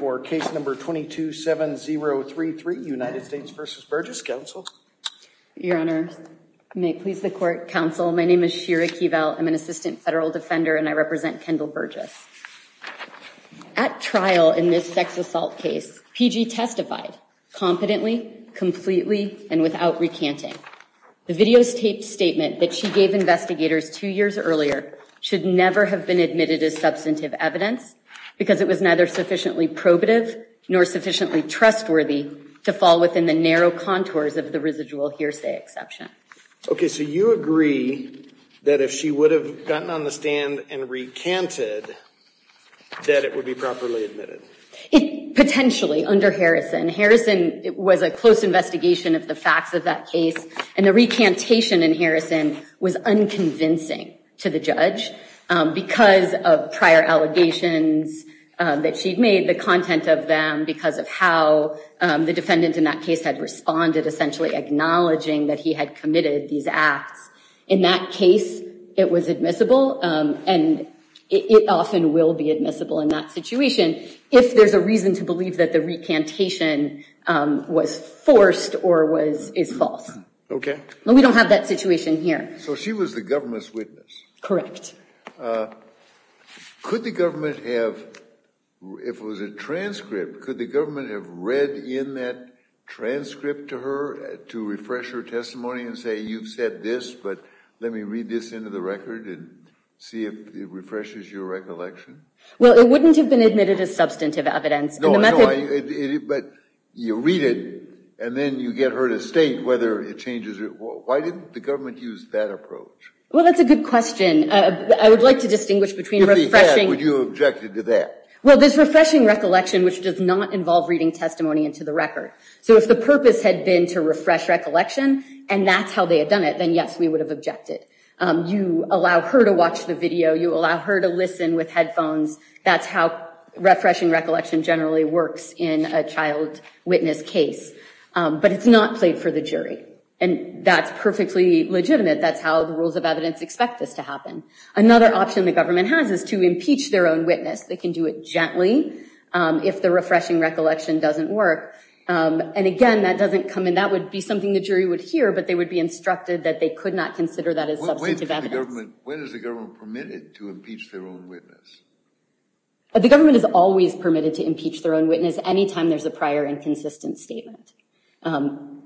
for case number 227033 United States v. Burgess. Counsel. Your Honor, may it please the court. Counsel, my name is Shira Keeval. I'm an assistant federal defender and I represent Kendall Burgess. At trial in this sex assault case, PG testified competently, completely, and without recanting. The video's taped statement that she gave investigators two years earlier should never have been admitted as substantive evidence because it was neither sufficiently probative nor sufficiently trustworthy to fall within the narrow contours of the residual hearsay exception. Okay, so you agree that if she would have gotten on the stand and recanted that it would be properly admitted? Potentially under Harrison. Harrison was a close investigation of the facts of that case and the recantation in Harrison was unconvincing to the judge because of prior allegations that she'd made, the content of them, because of how the defendant in that case had responded, essentially acknowledging that he had committed these acts. In that case, it was admissible and it often will be admissible in that situation if there's a reason to believe that the recantation was forced or was is false. Okay. We don't have that situation here. So she was the government's witness? Correct. Could the government have, if it was a transcript, could the government have read in that transcript to her to refresh her testimony and say, you've said this, but let me read this into the record and see if it refreshes your recollection? Well, it wouldn't have been admitted as substantive evidence. No, but you read it and then you get her to state whether it changes it. Why didn't the Well, that's a good question. I would like to distinguish between refreshing. Would you object to that? Well, there's refreshing recollection, which does not involve reading testimony into the record. So if the purpose had been to refresh recollection and that's how they had done it, then yes, we would have objected. You allow her to watch the video. You allow her to listen with headphones. That's how refreshing recollection generally works in a child witness case, but it's not played for the jury. And that's perfectly legitimate. That's how the rules of evidence expect this to happen. Another option the government has is to impeach their own witness. They can do it gently if the refreshing recollection doesn't work. And again, that doesn't come in. That would be something the jury would hear, but they would be instructed that they could not consider that as substantive evidence. When is the government permitted to impeach their own witness? The government is always permitted to impeach their own witness anytime there's a prior inconsistent statement.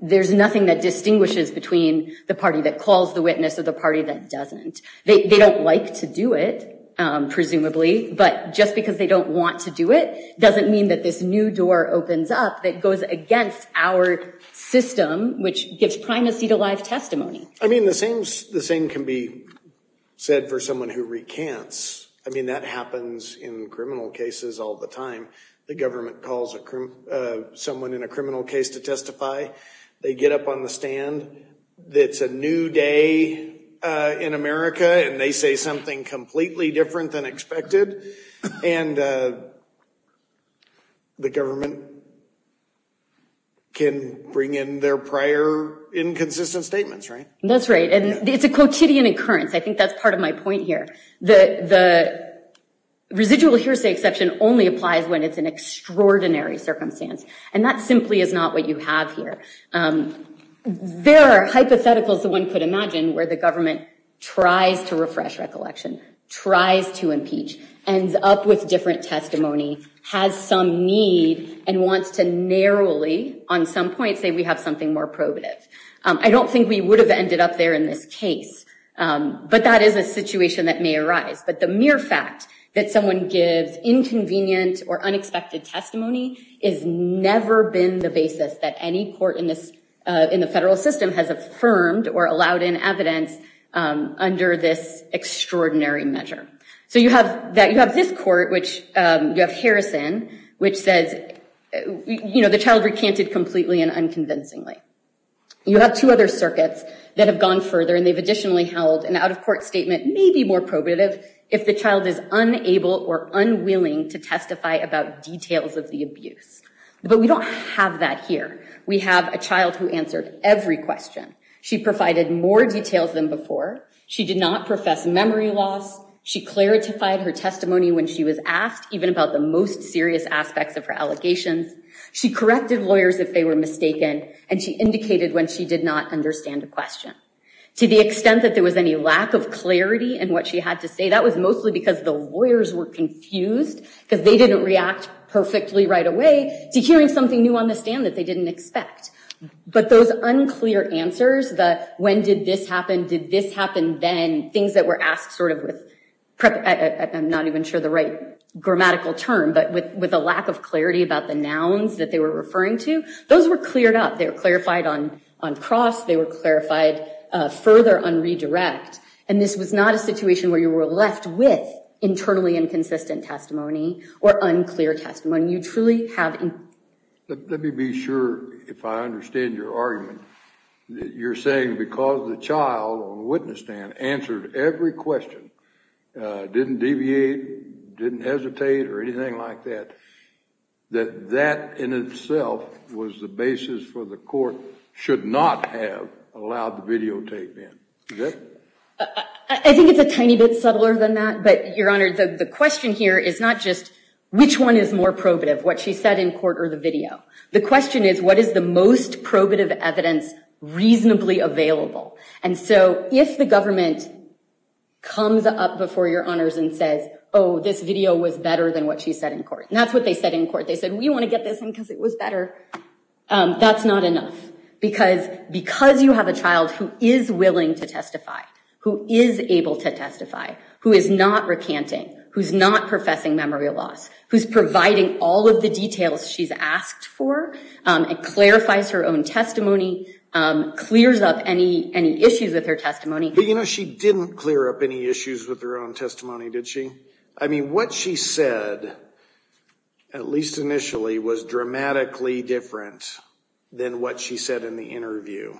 There's nothing that distinguishes between the party that calls the witness or the party that doesn't. They don't like to do it, presumably, but just because they don't want to do it doesn't mean that this new door opens up that goes against our system, which gives primacy to live testimony. I mean, the same can be said for someone who recants. I mean, that happens in criminal cases all the time. The government calls someone in a that's a new day in America and they say something completely different than expected. And the government can bring in their prior inconsistent statements, right? That's right. And it's a quotidian occurrence. I think that's part of my point here. The residual hearsay exception only applies when it's an extraordinary circumstance. And that simply is not what you have here. There are hypotheticals that one could imagine where the government tries to refresh recollection, tries to impeach, ends up with different testimony, has some need, and wants to narrowly, on some point, say we have something more probative. I don't think we would have ended up there in this case, but that is a situation that may arise. But the mere fact that someone gives inconvenient or unexpected testimony has never been the basis that any court in this in the federal system has affirmed or allowed in evidence under this extraordinary measure. So you have that you have this court, which you have Harrison, which says, you know, the child recanted completely and unconvincingly. You have two other circuits that have gone further and they've additionally held an out-of-court statement may be more probative if the child is unable or unwilling to testify about details of the We have that here. We have a child who answered every question. She provided more details than before. She did not profess memory loss. She clarified her testimony when she was asked, even about the most serious aspects of her allegations. She corrected lawyers if they were mistaken and she indicated when she did not understand a question. To the extent that there was any lack of clarity in what she had to say, that was mostly because the lawyers were confused because they didn't react perfectly right away to hearing something new on the stand that they didn't expect. But those unclear answers that when did this happen? Did this happen then? Things that were asked sort of with, I'm not even sure the right grammatical term, but with a lack of clarity about the nouns that they were referring to, those were cleared up. They were clarified on cross. They were clarified further on redirect and this was not a situation where you were left with internally inconsistent testimony or unclear testimony. You truly have. Let me be sure if I understand your argument. You're saying because the child on the witness stand answered every question, didn't deviate, didn't hesitate or anything like that, that that in itself was the basis for the court should not have allowed the videotape in. I think it's a tiny bit subtler than that. But your Honor, the question here is not just which one is more probative, what she said in court or the video. The question is, what is the most probative evidence reasonably available? And so if the government comes up before your Honors and says, oh, this video was better than what she said in court. And that's what they said in court. They said we want to get this in because it was better. That's not enough because because you have a child who is willing to testify, who is able to testify, who is not recanting, who's not professing memory loss, who's providing all of the details she's asked for and clarifies her own testimony, clears up any issues with her testimony. But you know, she didn't clear up any issues with her own testimony, did she? I mean, what she said, at least initially, was dramatically different than what she said in the interview.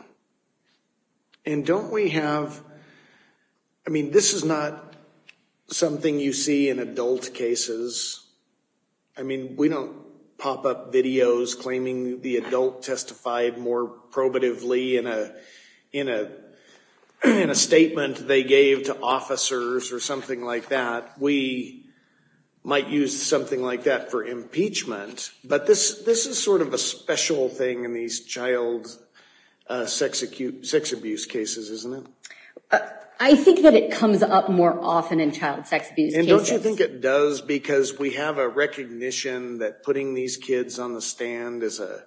And don't we have, I mean, this is not something you see in adult cases. I mean, we don't pop up videos claiming the adult testified more probatively in a statement they gave to officers or something like that. We might use something like that for impeachment. But this is sort of a special thing in these child sex abuse cases, isn't it? I think that it comes up more often in child sex abuse cases. And don't you think it does because we have a recognition that putting these kids on the stand is a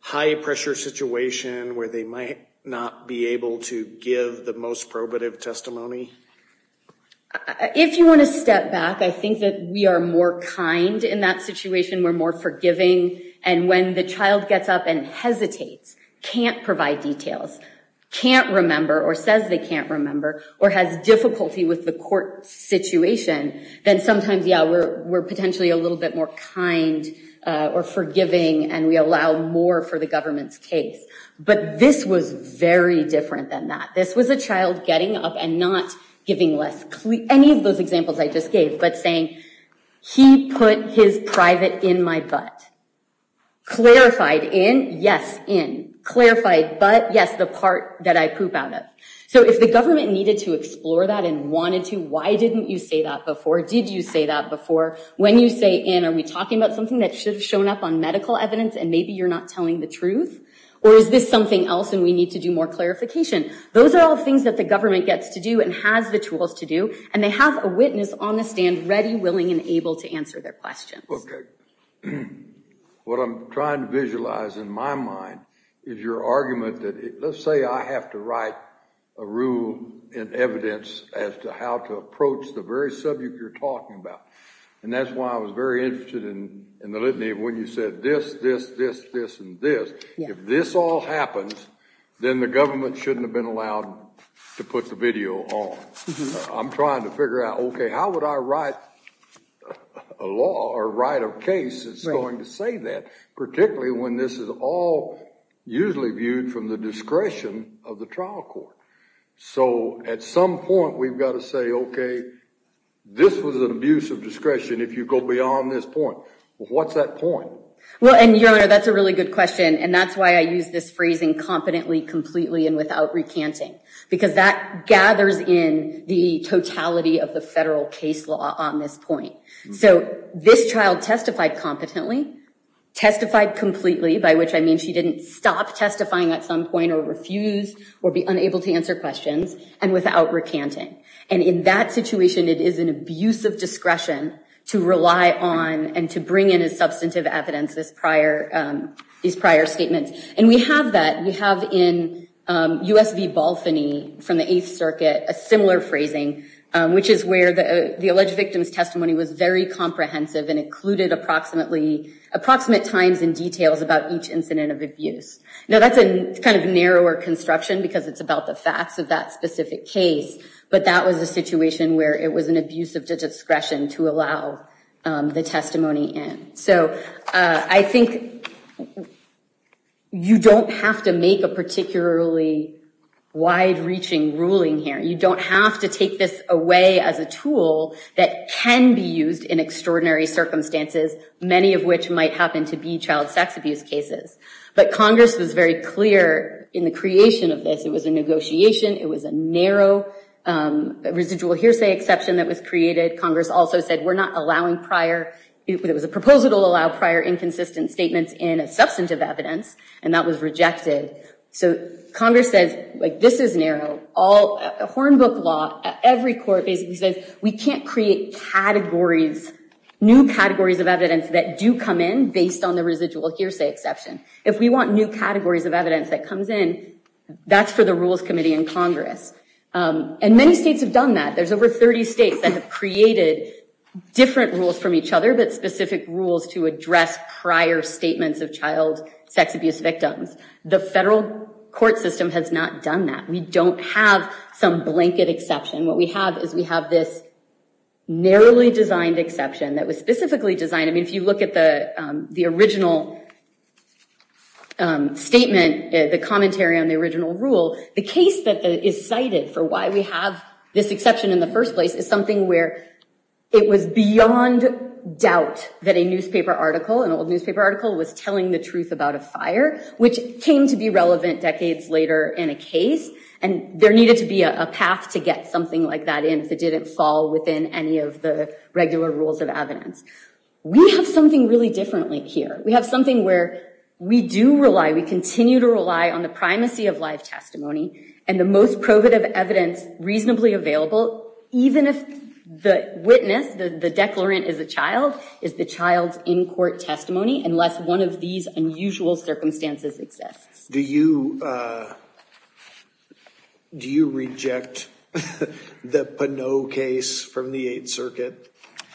high-pressure situation where they might not be able to give the most probative testimony? If you want to step back, I think that we are more kind in that situation. We're more forgiving. And when the child gets up and hesitates, can't provide details, can't remember or says they can't remember or has difficulty with the court situation, then sometimes, yeah, we're potentially a little bit more kind or forgiving and we allow more for the government's case. But this was very different than that. This was a child getting up and not giving any of those examples I just gave, but saying, he put his private in my butt. Clarified in, yes, in. Clarified butt, yes, the part that I poop out of. So if the government needed to explore that and wanted to, why didn't you say that before? Did you say that before? When you say in, are we talking about something that should have shown up on medical evidence and maybe you're not telling the truth? Or is this something else and we need to do more clarification? Those are all things that the government gets to do and has the tools to do, and they have a witness on the stand ready, willing, and able to answer their questions. Okay. What I'm trying to visualize in my mind is your argument that, let's say I have to write a rule in evidence as to how to approach the very subject you're talking about. And that's why I was very interested in the litany of when you said this, this, this, this, and this. If this all happens, then the government shouldn't have been allowed to put the video on. I'm trying to figure out, okay, how would I write a law or write a case that's going to say that? Particularly when this is all usually viewed from the discretion of the trial court. So at some point, we've got to say, okay, this was an abuse of discretion. If you go beyond this point, what's that point? Well, and your honor, that's a really good question. And that's why I use this phrasing competently, completely, and without recanting, because that gathers in the totality of the federal case law on this point. So this child testified competently, testified completely, by which I mean she didn't stop testifying at some point or refuse or be unable to answer questions, and without recanting. And in that situation, it is an abuse of discretion to rely on and to bring in a substantive evidence this prior, these prior statements. And we have that, we have in US v. Balfany from the Eighth Circuit, a similar phrasing, which is where the alleged victim's testimony was very comprehensive and included approximately, approximate times and details about each incident of abuse. Now, that's a kind of narrower construction because it's about the facts of that specific case. But that was a situation where it was an abuse of discretion to allow the testimony in. So I think you don't have to make a particularly wide-reaching ruling here. You don't have to take this away as a tool that can be used in extraordinary circumstances, many of which might happen to be child sex abuse cases. But Congress was very clear in the creation of this. It was a negotiation. It was a narrow residual hearsay exception that was created. Congress also said, we're not allowing prior, it was a proposal to allow prior inconsistent statements in a substantive evidence, and that was rejected. So Congress says, like, this is narrow. Hornbook law, every court basically says we can't create categories, new categories of evidence that do come in based on the residual hearsay exception. If we want new categories of evidence that comes in, that's for the Rules Committee in Congress. And many states have done that. There's over 30 states that have created different rules from each other, but specific rules to address prior statements of child sex abuse victims. The federal court system has not done that. We don't have some blanket exception. What we have is we have this narrowly designed exception that was specifically designed. I mean, if you look at the original statement, the commentary on the original rule, the case that is cited for why we have this exception in the first place is something where it was beyond doubt that a newspaper article, an old newspaper article, was telling the truth about a fire, which came to be relevant decades later in a case, and there needed to be a path to get something like that in if it didn't fall within any of the regular rules of evidence. We have something really different here. We have something where we do rely, we continue to rely on the primacy of live testimony and the most probative evidence reasonably available, even if the witness, the declarant is a child, is the child's in-court testimony, unless one of these unusual circumstances exists. Do you, do you reject the Pinot case from the Eighth Circuit?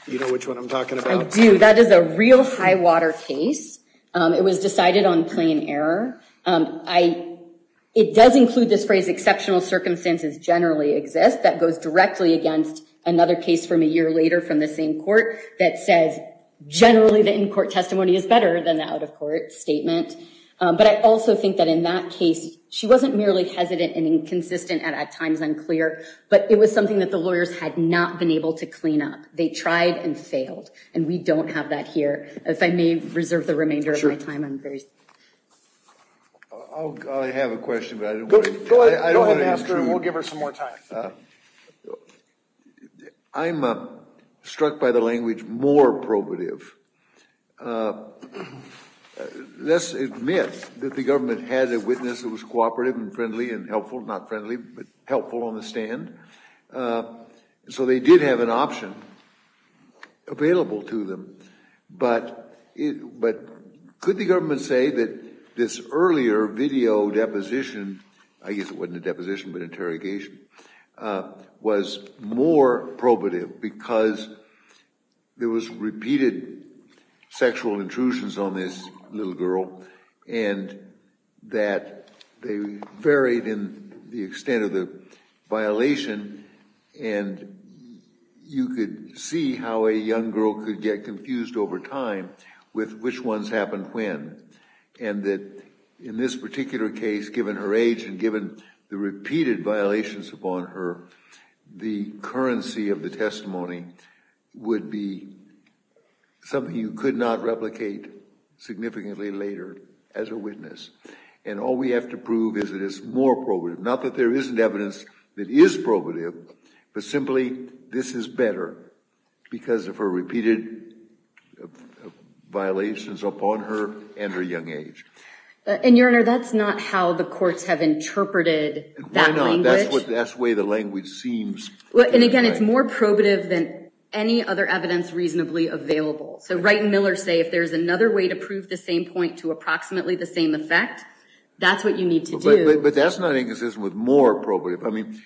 You know which one I'm talking about? I do. That is a real high water case. It was decided on plain error. I, it does include this phrase, exceptional circumstances generally exist, that goes directly against another case from a year later from the same court that says generally the in-court testimony is better than the out-of-court statement. But I also think that in that case, she wasn't merely hesitant and inconsistent and at times unclear, but it was something that the lawyers had not been able to clean up. They tried and failed, and we don't have that here. If I may reserve the remainder of my time, I'm very sorry. I have a question, but I don't want to intrude. Go ahead, we'll give her some more time. I'm struck by the government had a witness that was cooperative and friendly and helpful, not friendly, but helpful on the stand. So they did have an option available to them, but it, but could the government say that this earlier video deposition, I guess it wasn't a deposition, but interrogation, was more probative because there was repeated sexual intrusions on this little girl and that they varied in the extent of the violation and you could see how a young girl could get confused over time with which ones happened when, and that in this particular case, given her age and given the repeated violations upon her, the currency of the testimony would be something you could not replicate significantly later as a witness. And all we have to prove is that it's more probative, not that there isn't evidence that is probative, but simply this is better because of her repeated violations upon her and her young age. And Your Honor, that's not how the courts have interpreted that language. That's the way the language seems. And again, it's more probative than any other evidence reasonably available. So Wright and Miller say if there's another way to prove the same point to approximately the same effect, that's what you need to do. But that's not inconsistent with more probative. I mean,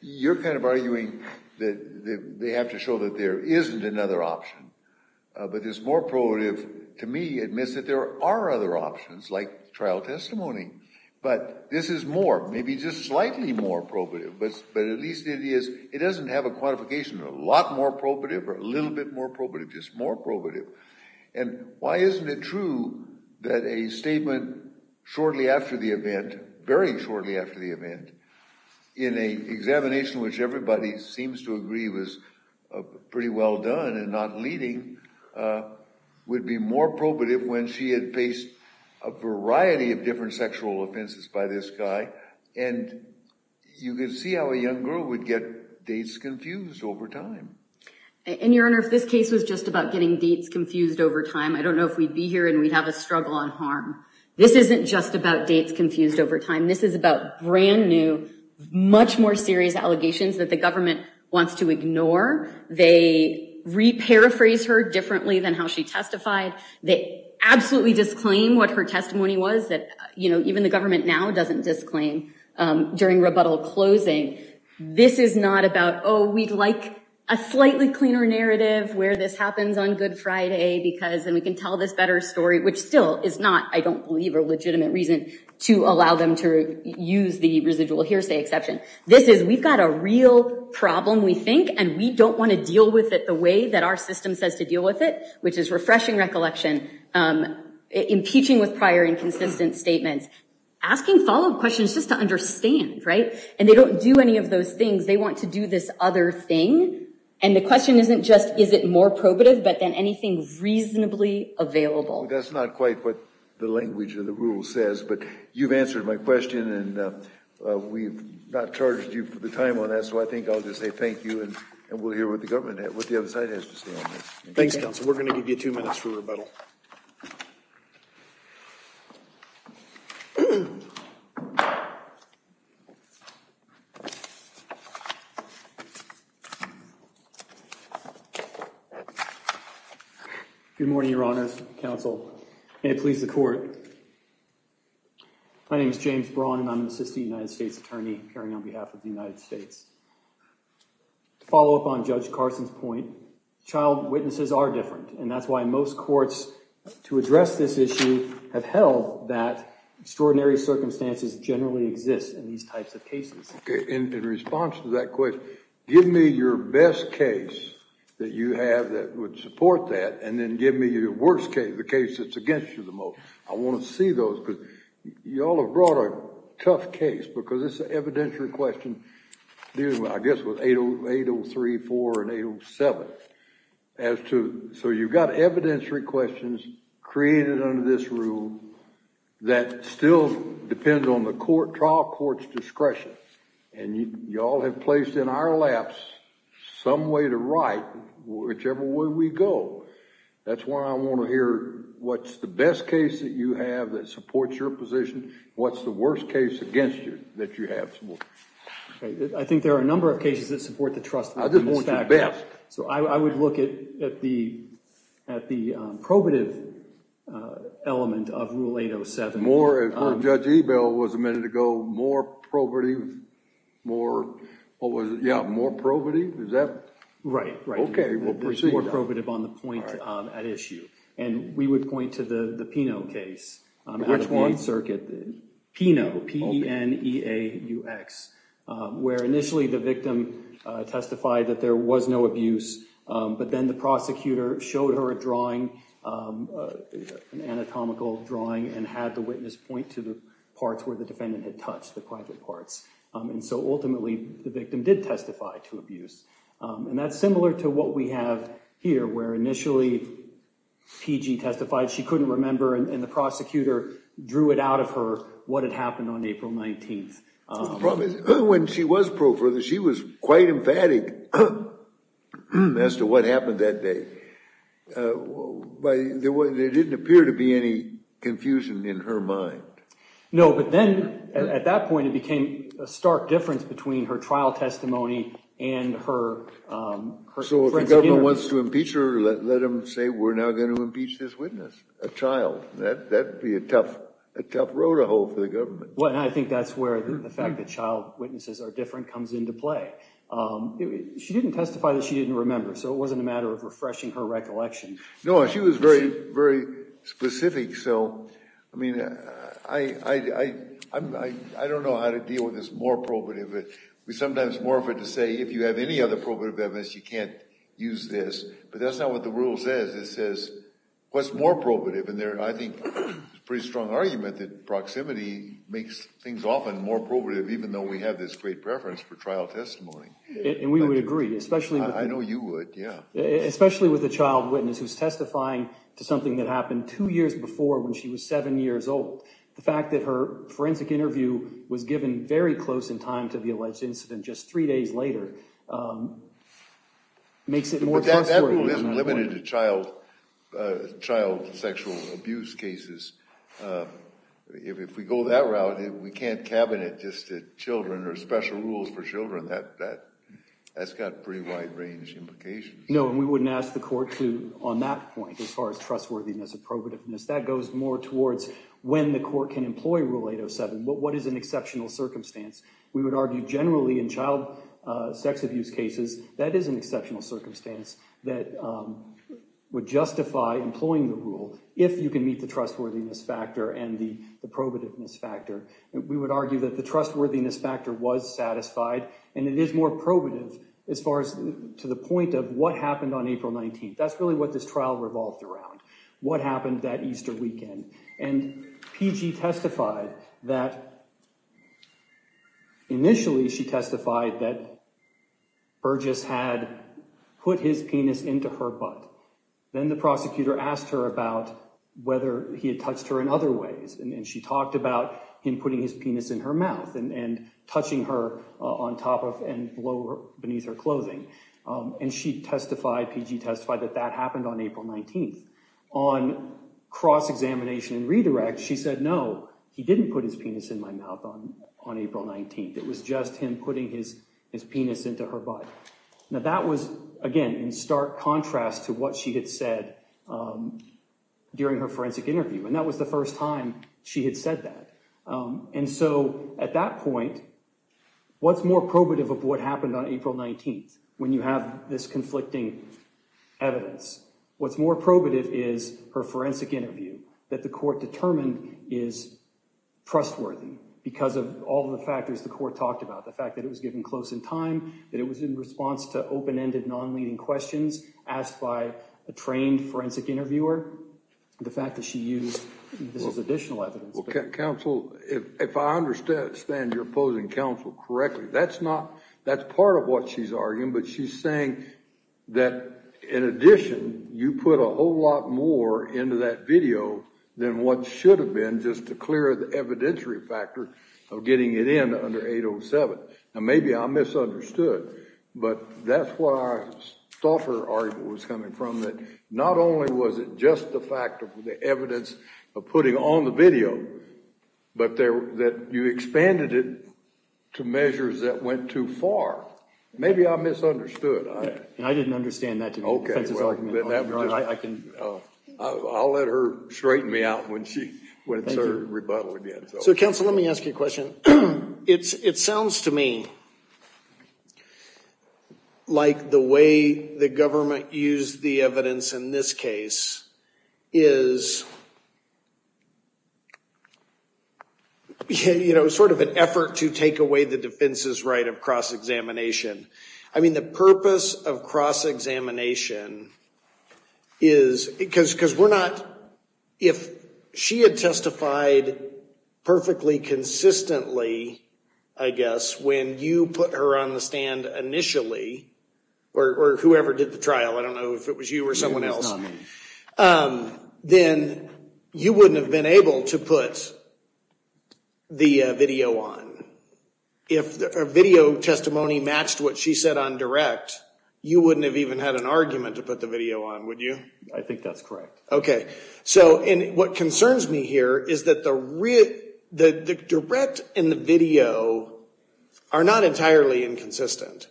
you're kind of arguing that they have to show that there isn't another option, but this more probative to me admits that there are other options like trial testimony, but this is more, maybe just slightly more probative, but at least it is, it doesn't have a quantification, a lot more probative or a little bit more probative, just more probative. And why isn't it true that a statement shortly after the event, very shortly after the event, in a examination which everybody seems to agree was pretty well done and not leading, would be more probative when she had faced a variety of different sexual offenses by this guy. And you can see how a young girl would get dates confused over time. And Your Honor, if this case was just about getting dates confused over time, I don't know if we'd be here and we'd have a struggle on harm. This isn't just about dates confused over time. This is about brand new, much more serious allegations that the government wants to ignore. They re-paraphrase her differently than how she testified. They absolutely disclaim what her testimony was that, you know, even the government now doesn't disclaim during rebuttal closing. This is not about, oh, we'd like a slightly cleaner narrative where this happens on Good Friday because then we can tell this better story, which still is not, I don't believe, a legitimate reason to allow them to use the residual hearsay exception. This is, we've got a real problem, we think, and we don't want to deal with it the way that our system says to deal with it, which is refreshing recollection, impeaching with prior and consistent statements, asking follow-up questions just to understand, right? And they don't do any of those things. They want to do this other thing. And the question isn't just, is it more probative, but then anything reasonably available. That's not quite what the language of the rule says, but you've answered my question and we've not charged you for the time on that. So I think I'll just say thank you and we'll hear what the government has, what the other side has to say on this. Thanks, counsel. We're going to give you two minutes for rebuttal. Good morning, Your Honors. Counsel, may it please the court. My name is James Braun and I'm an assistant United States attorney, appearing on behalf of the United States. To follow up on Judge Carson's point, child witnesses are different and that's why most courts to address this issue have held that extraordinary cases. Okay, and in response to that, I'm going to respond to that question. Give me your best case that you have that would support that and then give me your worst case, the case that's against you the most. I want to see those because y'all have brought a tough case because it's an evidentiary question dealing with, I guess, with 803, 804 and 807. So you've got evidentiary questions created under this rule that still depends on the trial court's discretion. And you all have placed in our laps some way to write whichever way we go. That's why I want to hear what's the best case that you have that supports your position. What's the worst case against you that you have? I think there are a number of cases that support the trust. I just want your best. So I would look at the probative element of Rule 807. More, as Judge Ebel was a minute ago, more probative, more, what was it? Yeah, more probative. Is that right? Okay, we'll proceed. More probative on the point at issue. And we would point to the Pinot case. Which one? Pinot, P-N-E-A-U-X, where initially the victim testified that there was no abuse, but then the prosecutor showed her a drawing, an anatomical drawing, and had the witness point to the parts where the defendant had touched the private parts. And so ultimately the victim did testify to abuse. And that's similar to what we have here, where initially PG testified she couldn't remember, and the prosecutor drew it out of her what had happened on April 19th. The problem is when she was pro further, she was quite emphatic as to what happened that day. There didn't appear to be any confusion in her mind. No, but then at that point it became a stark difference between her trial testimony and her... So if the government wants to impeach her, let them say we're now going to impeach this witness, a child. That would be a tough road to hold for the government. Well, and I think that's where the fact that child witnesses are different comes into play. She didn't testify that she didn't remember, so it wasn't a matter of refreshing her specific. So, I mean, I don't know how to deal with this more probative, but we sometimes morph it to say if you have any other probative evidence, you can't use this. But that's not what the rule says. It says what's more probative? And I think it's a pretty strong argument that proximity makes things often more probative, even though we have this great preference for trial testimony. And we would agree, especially with... I know you would, yeah. Especially with a child witness who's testifying to something that happened two years before when she was seven years old. The fact that her forensic interview was given very close in time to the alleged incident, just three days later, makes it more trustworthy. But that rule isn't limited to child sexual abuse cases. If we go that route, we can't cabinet just children or special rules for children. That's got pretty wide-range implications. No, and we wouldn't ask the court to, on that point, as far as trustworthiness and probativeness. That goes more towards when the court can employ Rule 807. What is an exceptional circumstance? We would argue generally in child sex abuse cases, that is an exceptional circumstance that would justify employing the rule if you can meet the trustworthiness factor and the probativeness factor. We would argue that the trustworthiness factor was satisfied, and it is more probative as far as to the point of what happened on April 19th. That's really what this trial revolved around. What happened that Easter weekend? And PG testified that, initially, she testified that Burgess had put his penis into her butt. Then the prosecutor asked her about whether he had touched her in other ways, and she talked about him putting his penis in her mouth and touching her on top of and below beneath her clothing. And she testified, PG testified, that that happened on April 19th. On cross examination and redirect, she said, no, he didn't put his penis in my mouth on April 19th. It was just him putting his penis into her butt. Now that was, again, in stark contrast to what she had said during her forensic interview, and that was the first time she had said that. And so, at that point, what's more probative of what happened on April 19th, when you have this evidence, what's more probative is her forensic interview that the court determined is trustworthy because of all the factors the court talked about. The fact that it was given close in time, that it was in response to open-ended, non-leading questions asked by a trained forensic interviewer. The fact that she used this as additional evidence. Counsel, if I understand you're opposing counsel correctly, that's not, that's part of what she's arguing, but she's saying that, in addition, you put a whole lot more into that video than what should have been just to clear the evidentiary factor of getting it in under 807. Now, maybe I misunderstood, but that's what I thought her argument was coming from, that not only was it just the fact of the evidence of putting on the video, but that you expanded it to maybe I misunderstood. I didn't understand that to be the defense's argument. I'll let her straighten me out when she, when it's her rebuttal again. So, counsel, let me ask you a question. It's, it sounds to me like the way the government used the evidence in this case is, you know, sort of an effort to take away the defense's right of cross-examination. I mean, the purpose of cross-examination is, because, because we're not, if she had testified perfectly consistently, I guess, when you put her on the stand initially, or whoever did the trial, I don't know if it was you or someone else, then you wouldn't have been able to put the video on. If a video testimony matched what she said on direct, you wouldn't have even had an argument to put the video on, would you? I think that's correct. Okay. So, and what concerns me here is that the real, the direct and the video are not entirely inconsistent,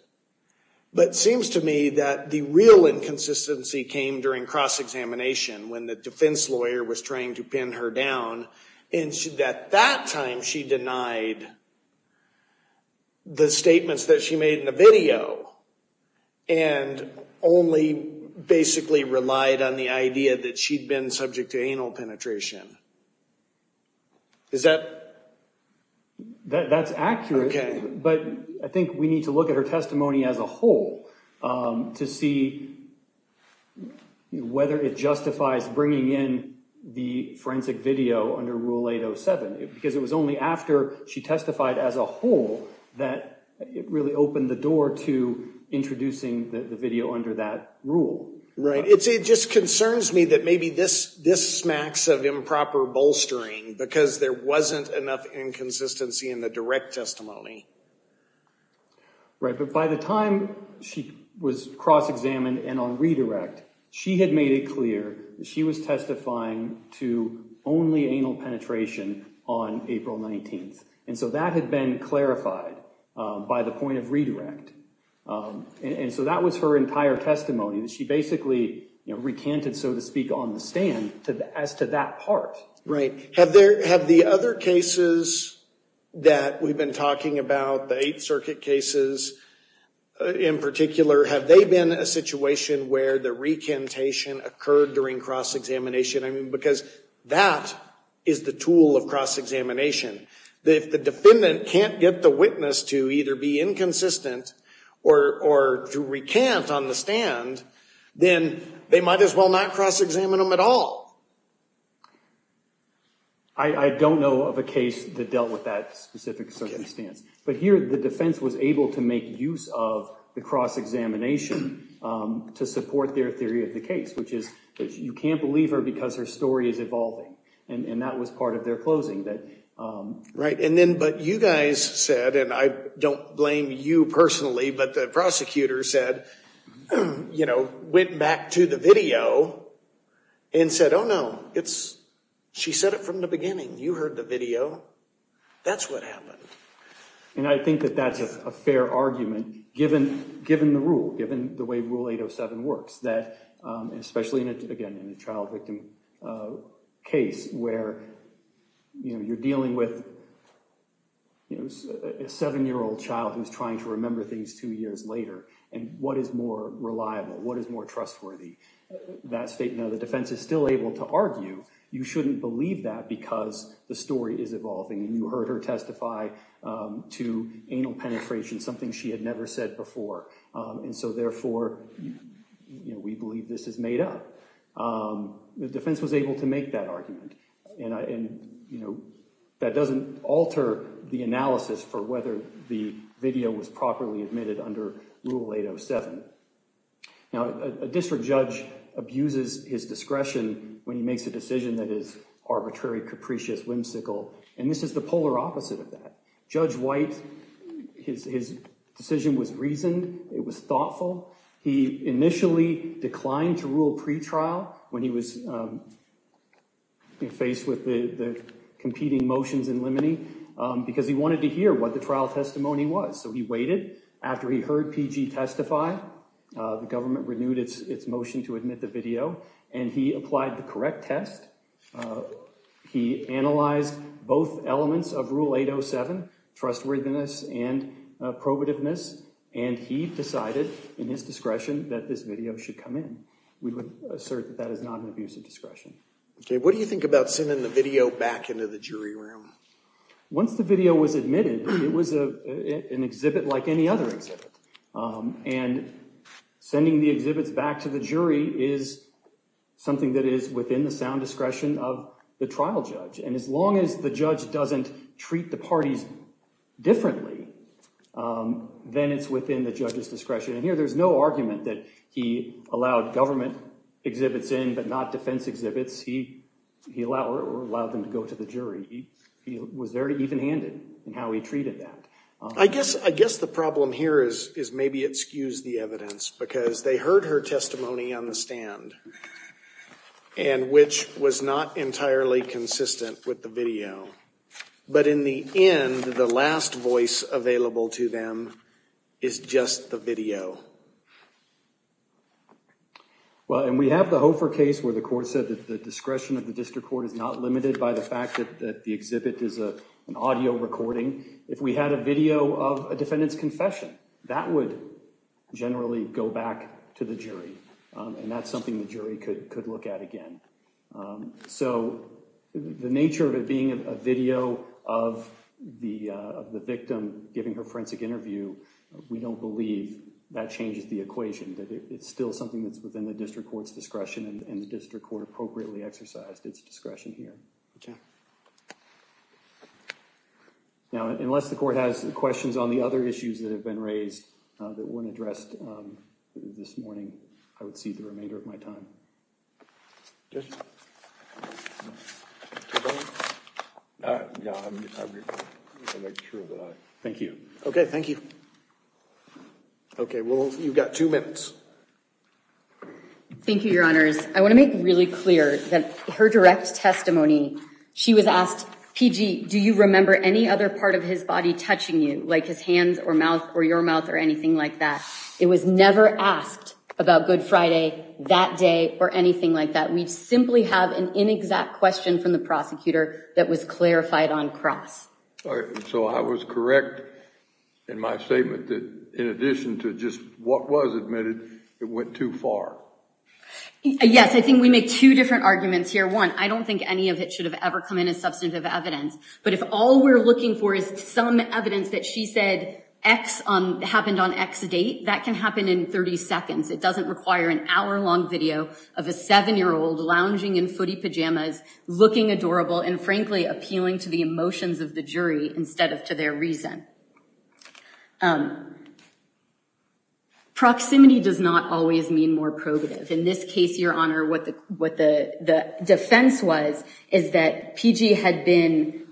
but seems to me that the real inconsistency came during cross-examination when the defense lawyer was trying to pin her down, and at that time she denied the statements that she made in the video, and only basically relied on the idea that she'd been subject to anal penetration. Is that? That's accurate. Okay. But I think we need to look at her testimony as a whole to see whether it justifies bringing in the forensic video under Rule 807, because it was only after she testified as a whole that it really opened the door to introducing the video under that rule. Right. It just concerns me that maybe this smacks of improper bolstering because there wasn't enough inconsistency in the direct testimony. Right. But by the time she was cross-examined and on redirect, she had made it clear that she was testifying to only anal penetration on April 19th. And so that had been clarified by the point of redirect. And so that was her entire testimony. She basically recanted, so to speak, on the stand as to that part. Right. Have the other cases that we've been talking about, the Eighth Circuit cases in particular, have they been a situation where the recantation occurred during cross-examination? I mean, because that is the tool of cross-examination. If the defendant can't get the witness to either be inconsistent or to recant on the stand, then they might as well not cross-examine them at all. I don't know of a case that dealt with that specific circumstance, but here the defense was able to make use of the cross-examination to support their theory of the case, which is that you can't believe her because her story is evolving. And that was part of their closing. Right. And then, but you guys said, and I don't blame you personally, but the prosecutor said, you know, went back to the video and said, oh, no, it's she said it from the beginning. You heard the video. That's what happened. And I think that that's a fair argument, given the rule, given the way Rule 807 works, that especially in a, again, in a child victim case where, you know, you're dealing with, you know, a seven-year-old child who's trying to remember things two years later. And what is more reliable? What is more trustworthy? That statement of the defense is still able to argue you shouldn't believe that because the story is evolving. You heard her testify to anal penetration, something she had never said before. And so therefore, you know, we believe this is made up. The defense was able to make that argument. And, you know, that doesn't alter the analysis for whether the video was properly admitted under Rule 807. Now, a district judge abuses his discretion when he makes a decision that is arbitrary, capricious, whimsical. And this is the polar opposite of Judge White. His decision was reasoned. It was thoughtful. He initially declined to rule pretrial when he was faced with the competing motions in limine, because he wanted to hear what the trial testimony was. So he waited after he heard PG testify. The government renewed its motion to admit the video, and he applied the correct test. He analyzed both elements of Rule 807, trustworthiness and probativeness, and he decided in his discretion that this video should come in. We would assert that that is not an abusive discretion. Okay. What do you think about sending the video back into the jury room? Once the video was admitted, it was an exhibit like any other exhibit. And sending the exhibits back to the jury is something that is within the sound discretion of the trial judge. And as the parties differently, then it's within the judge's discretion. And here there's no argument that he allowed government exhibits in, but not defense exhibits. He allowed them to go to the jury. He was very even-handed in how he treated that. I guess the problem here is maybe it skews the evidence, because they heard her testimony on the stand, and which was not entirely consistent with the video. But in the end, the last voice available to them is just the video. Well, and we have the Hofer case where the court said that the discretion of the district court is not limited by the fact that the exhibit is an audio recording. If we had a video of a defendant's confession, that would generally go back to the jury. And that's something the nature of it being a video of the victim giving her forensic interview, we don't believe that changes the equation. That it's still something that's within the district court's discretion, and the district court appropriately exercised its discretion here. Now, unless the court has questions on the other issues that have been raised that weren't addressed this morning, I would cede the remainder of my time. Thank you. Okay, thank you. Okay, well, you've got two minutes. Thank you, Your Honors. I want to make really clear that her direct testimony, she was asked, PG, do you remember any other part of his body touching you, like his hands or mouth or your mouth or anything like that? It was never asked about Good Friday, that day or anything like that. We simply have an inexact question from the prosecutor that was clarified on cross. So I was correct in my statement that in addition to just what was admitted, it went too far. Yes, I think we make two different arguments here. One, I don't think any of it should have ever come in as substantive evidence. But if all we're looking for is some evidence that she said X happened on X date, that can happen in 30 seconds. It doesn't require an hour-long video of a seven-year-old lounging in footie pajamas, looking adorable and frankly appealing to the emotions of the jury instead of to their reason. Proximity does not always mean more probative. In this case, Your Honor, what the defense was is that PG had been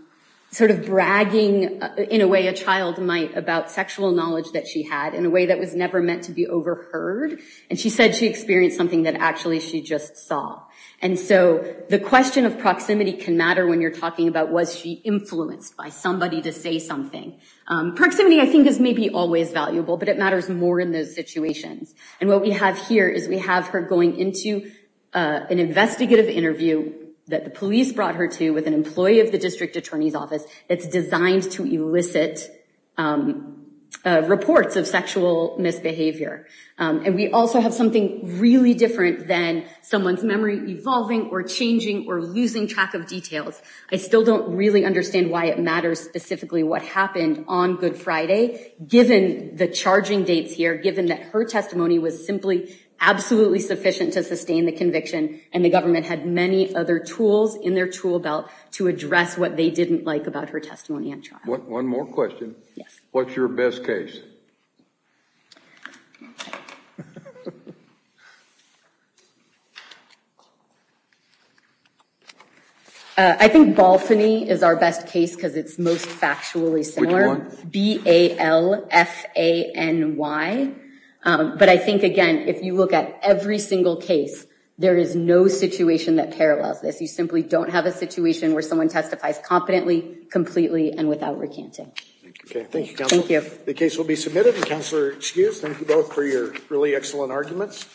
sort of bragging in a way a child might about sexual knowledge that she had in a way that was never meant to be overheard. And she said she experienced something that actually she just saw. And so the question of proximity can matter when you're talking about was she influenced by somebody to say something. Proximity, I think, is maybe always valuable, but it matters more in those situations. And what we have here is we have her going into an investigative interview that the police brought her to with an employee of the district attorney's office that's designed to elicit reports of sexual misbehavior. And we also have something really different than someone's memory evolving or changing or losing track of details. I still don't really understand why it matters specifically what happened on Good Friday, given the charging dates here, given that her testimony was simply absolutely sufficient to sustain the conviction and the government had many other tools in their tool belt to address what they didn't like about her testimony on trial. One more question. What's your best case? I think Balfany is our best case because it's most factually similar. B-A-L-F-A-N-Y. But I think again, if you look at every single case, there is no situation that parallels this. You simply don't have a situation where someone testifies competently, completely and without recanting. Okay. Thank you. The case will be submitted. Counselor, excuse. Thank you both for your really excellent arguments.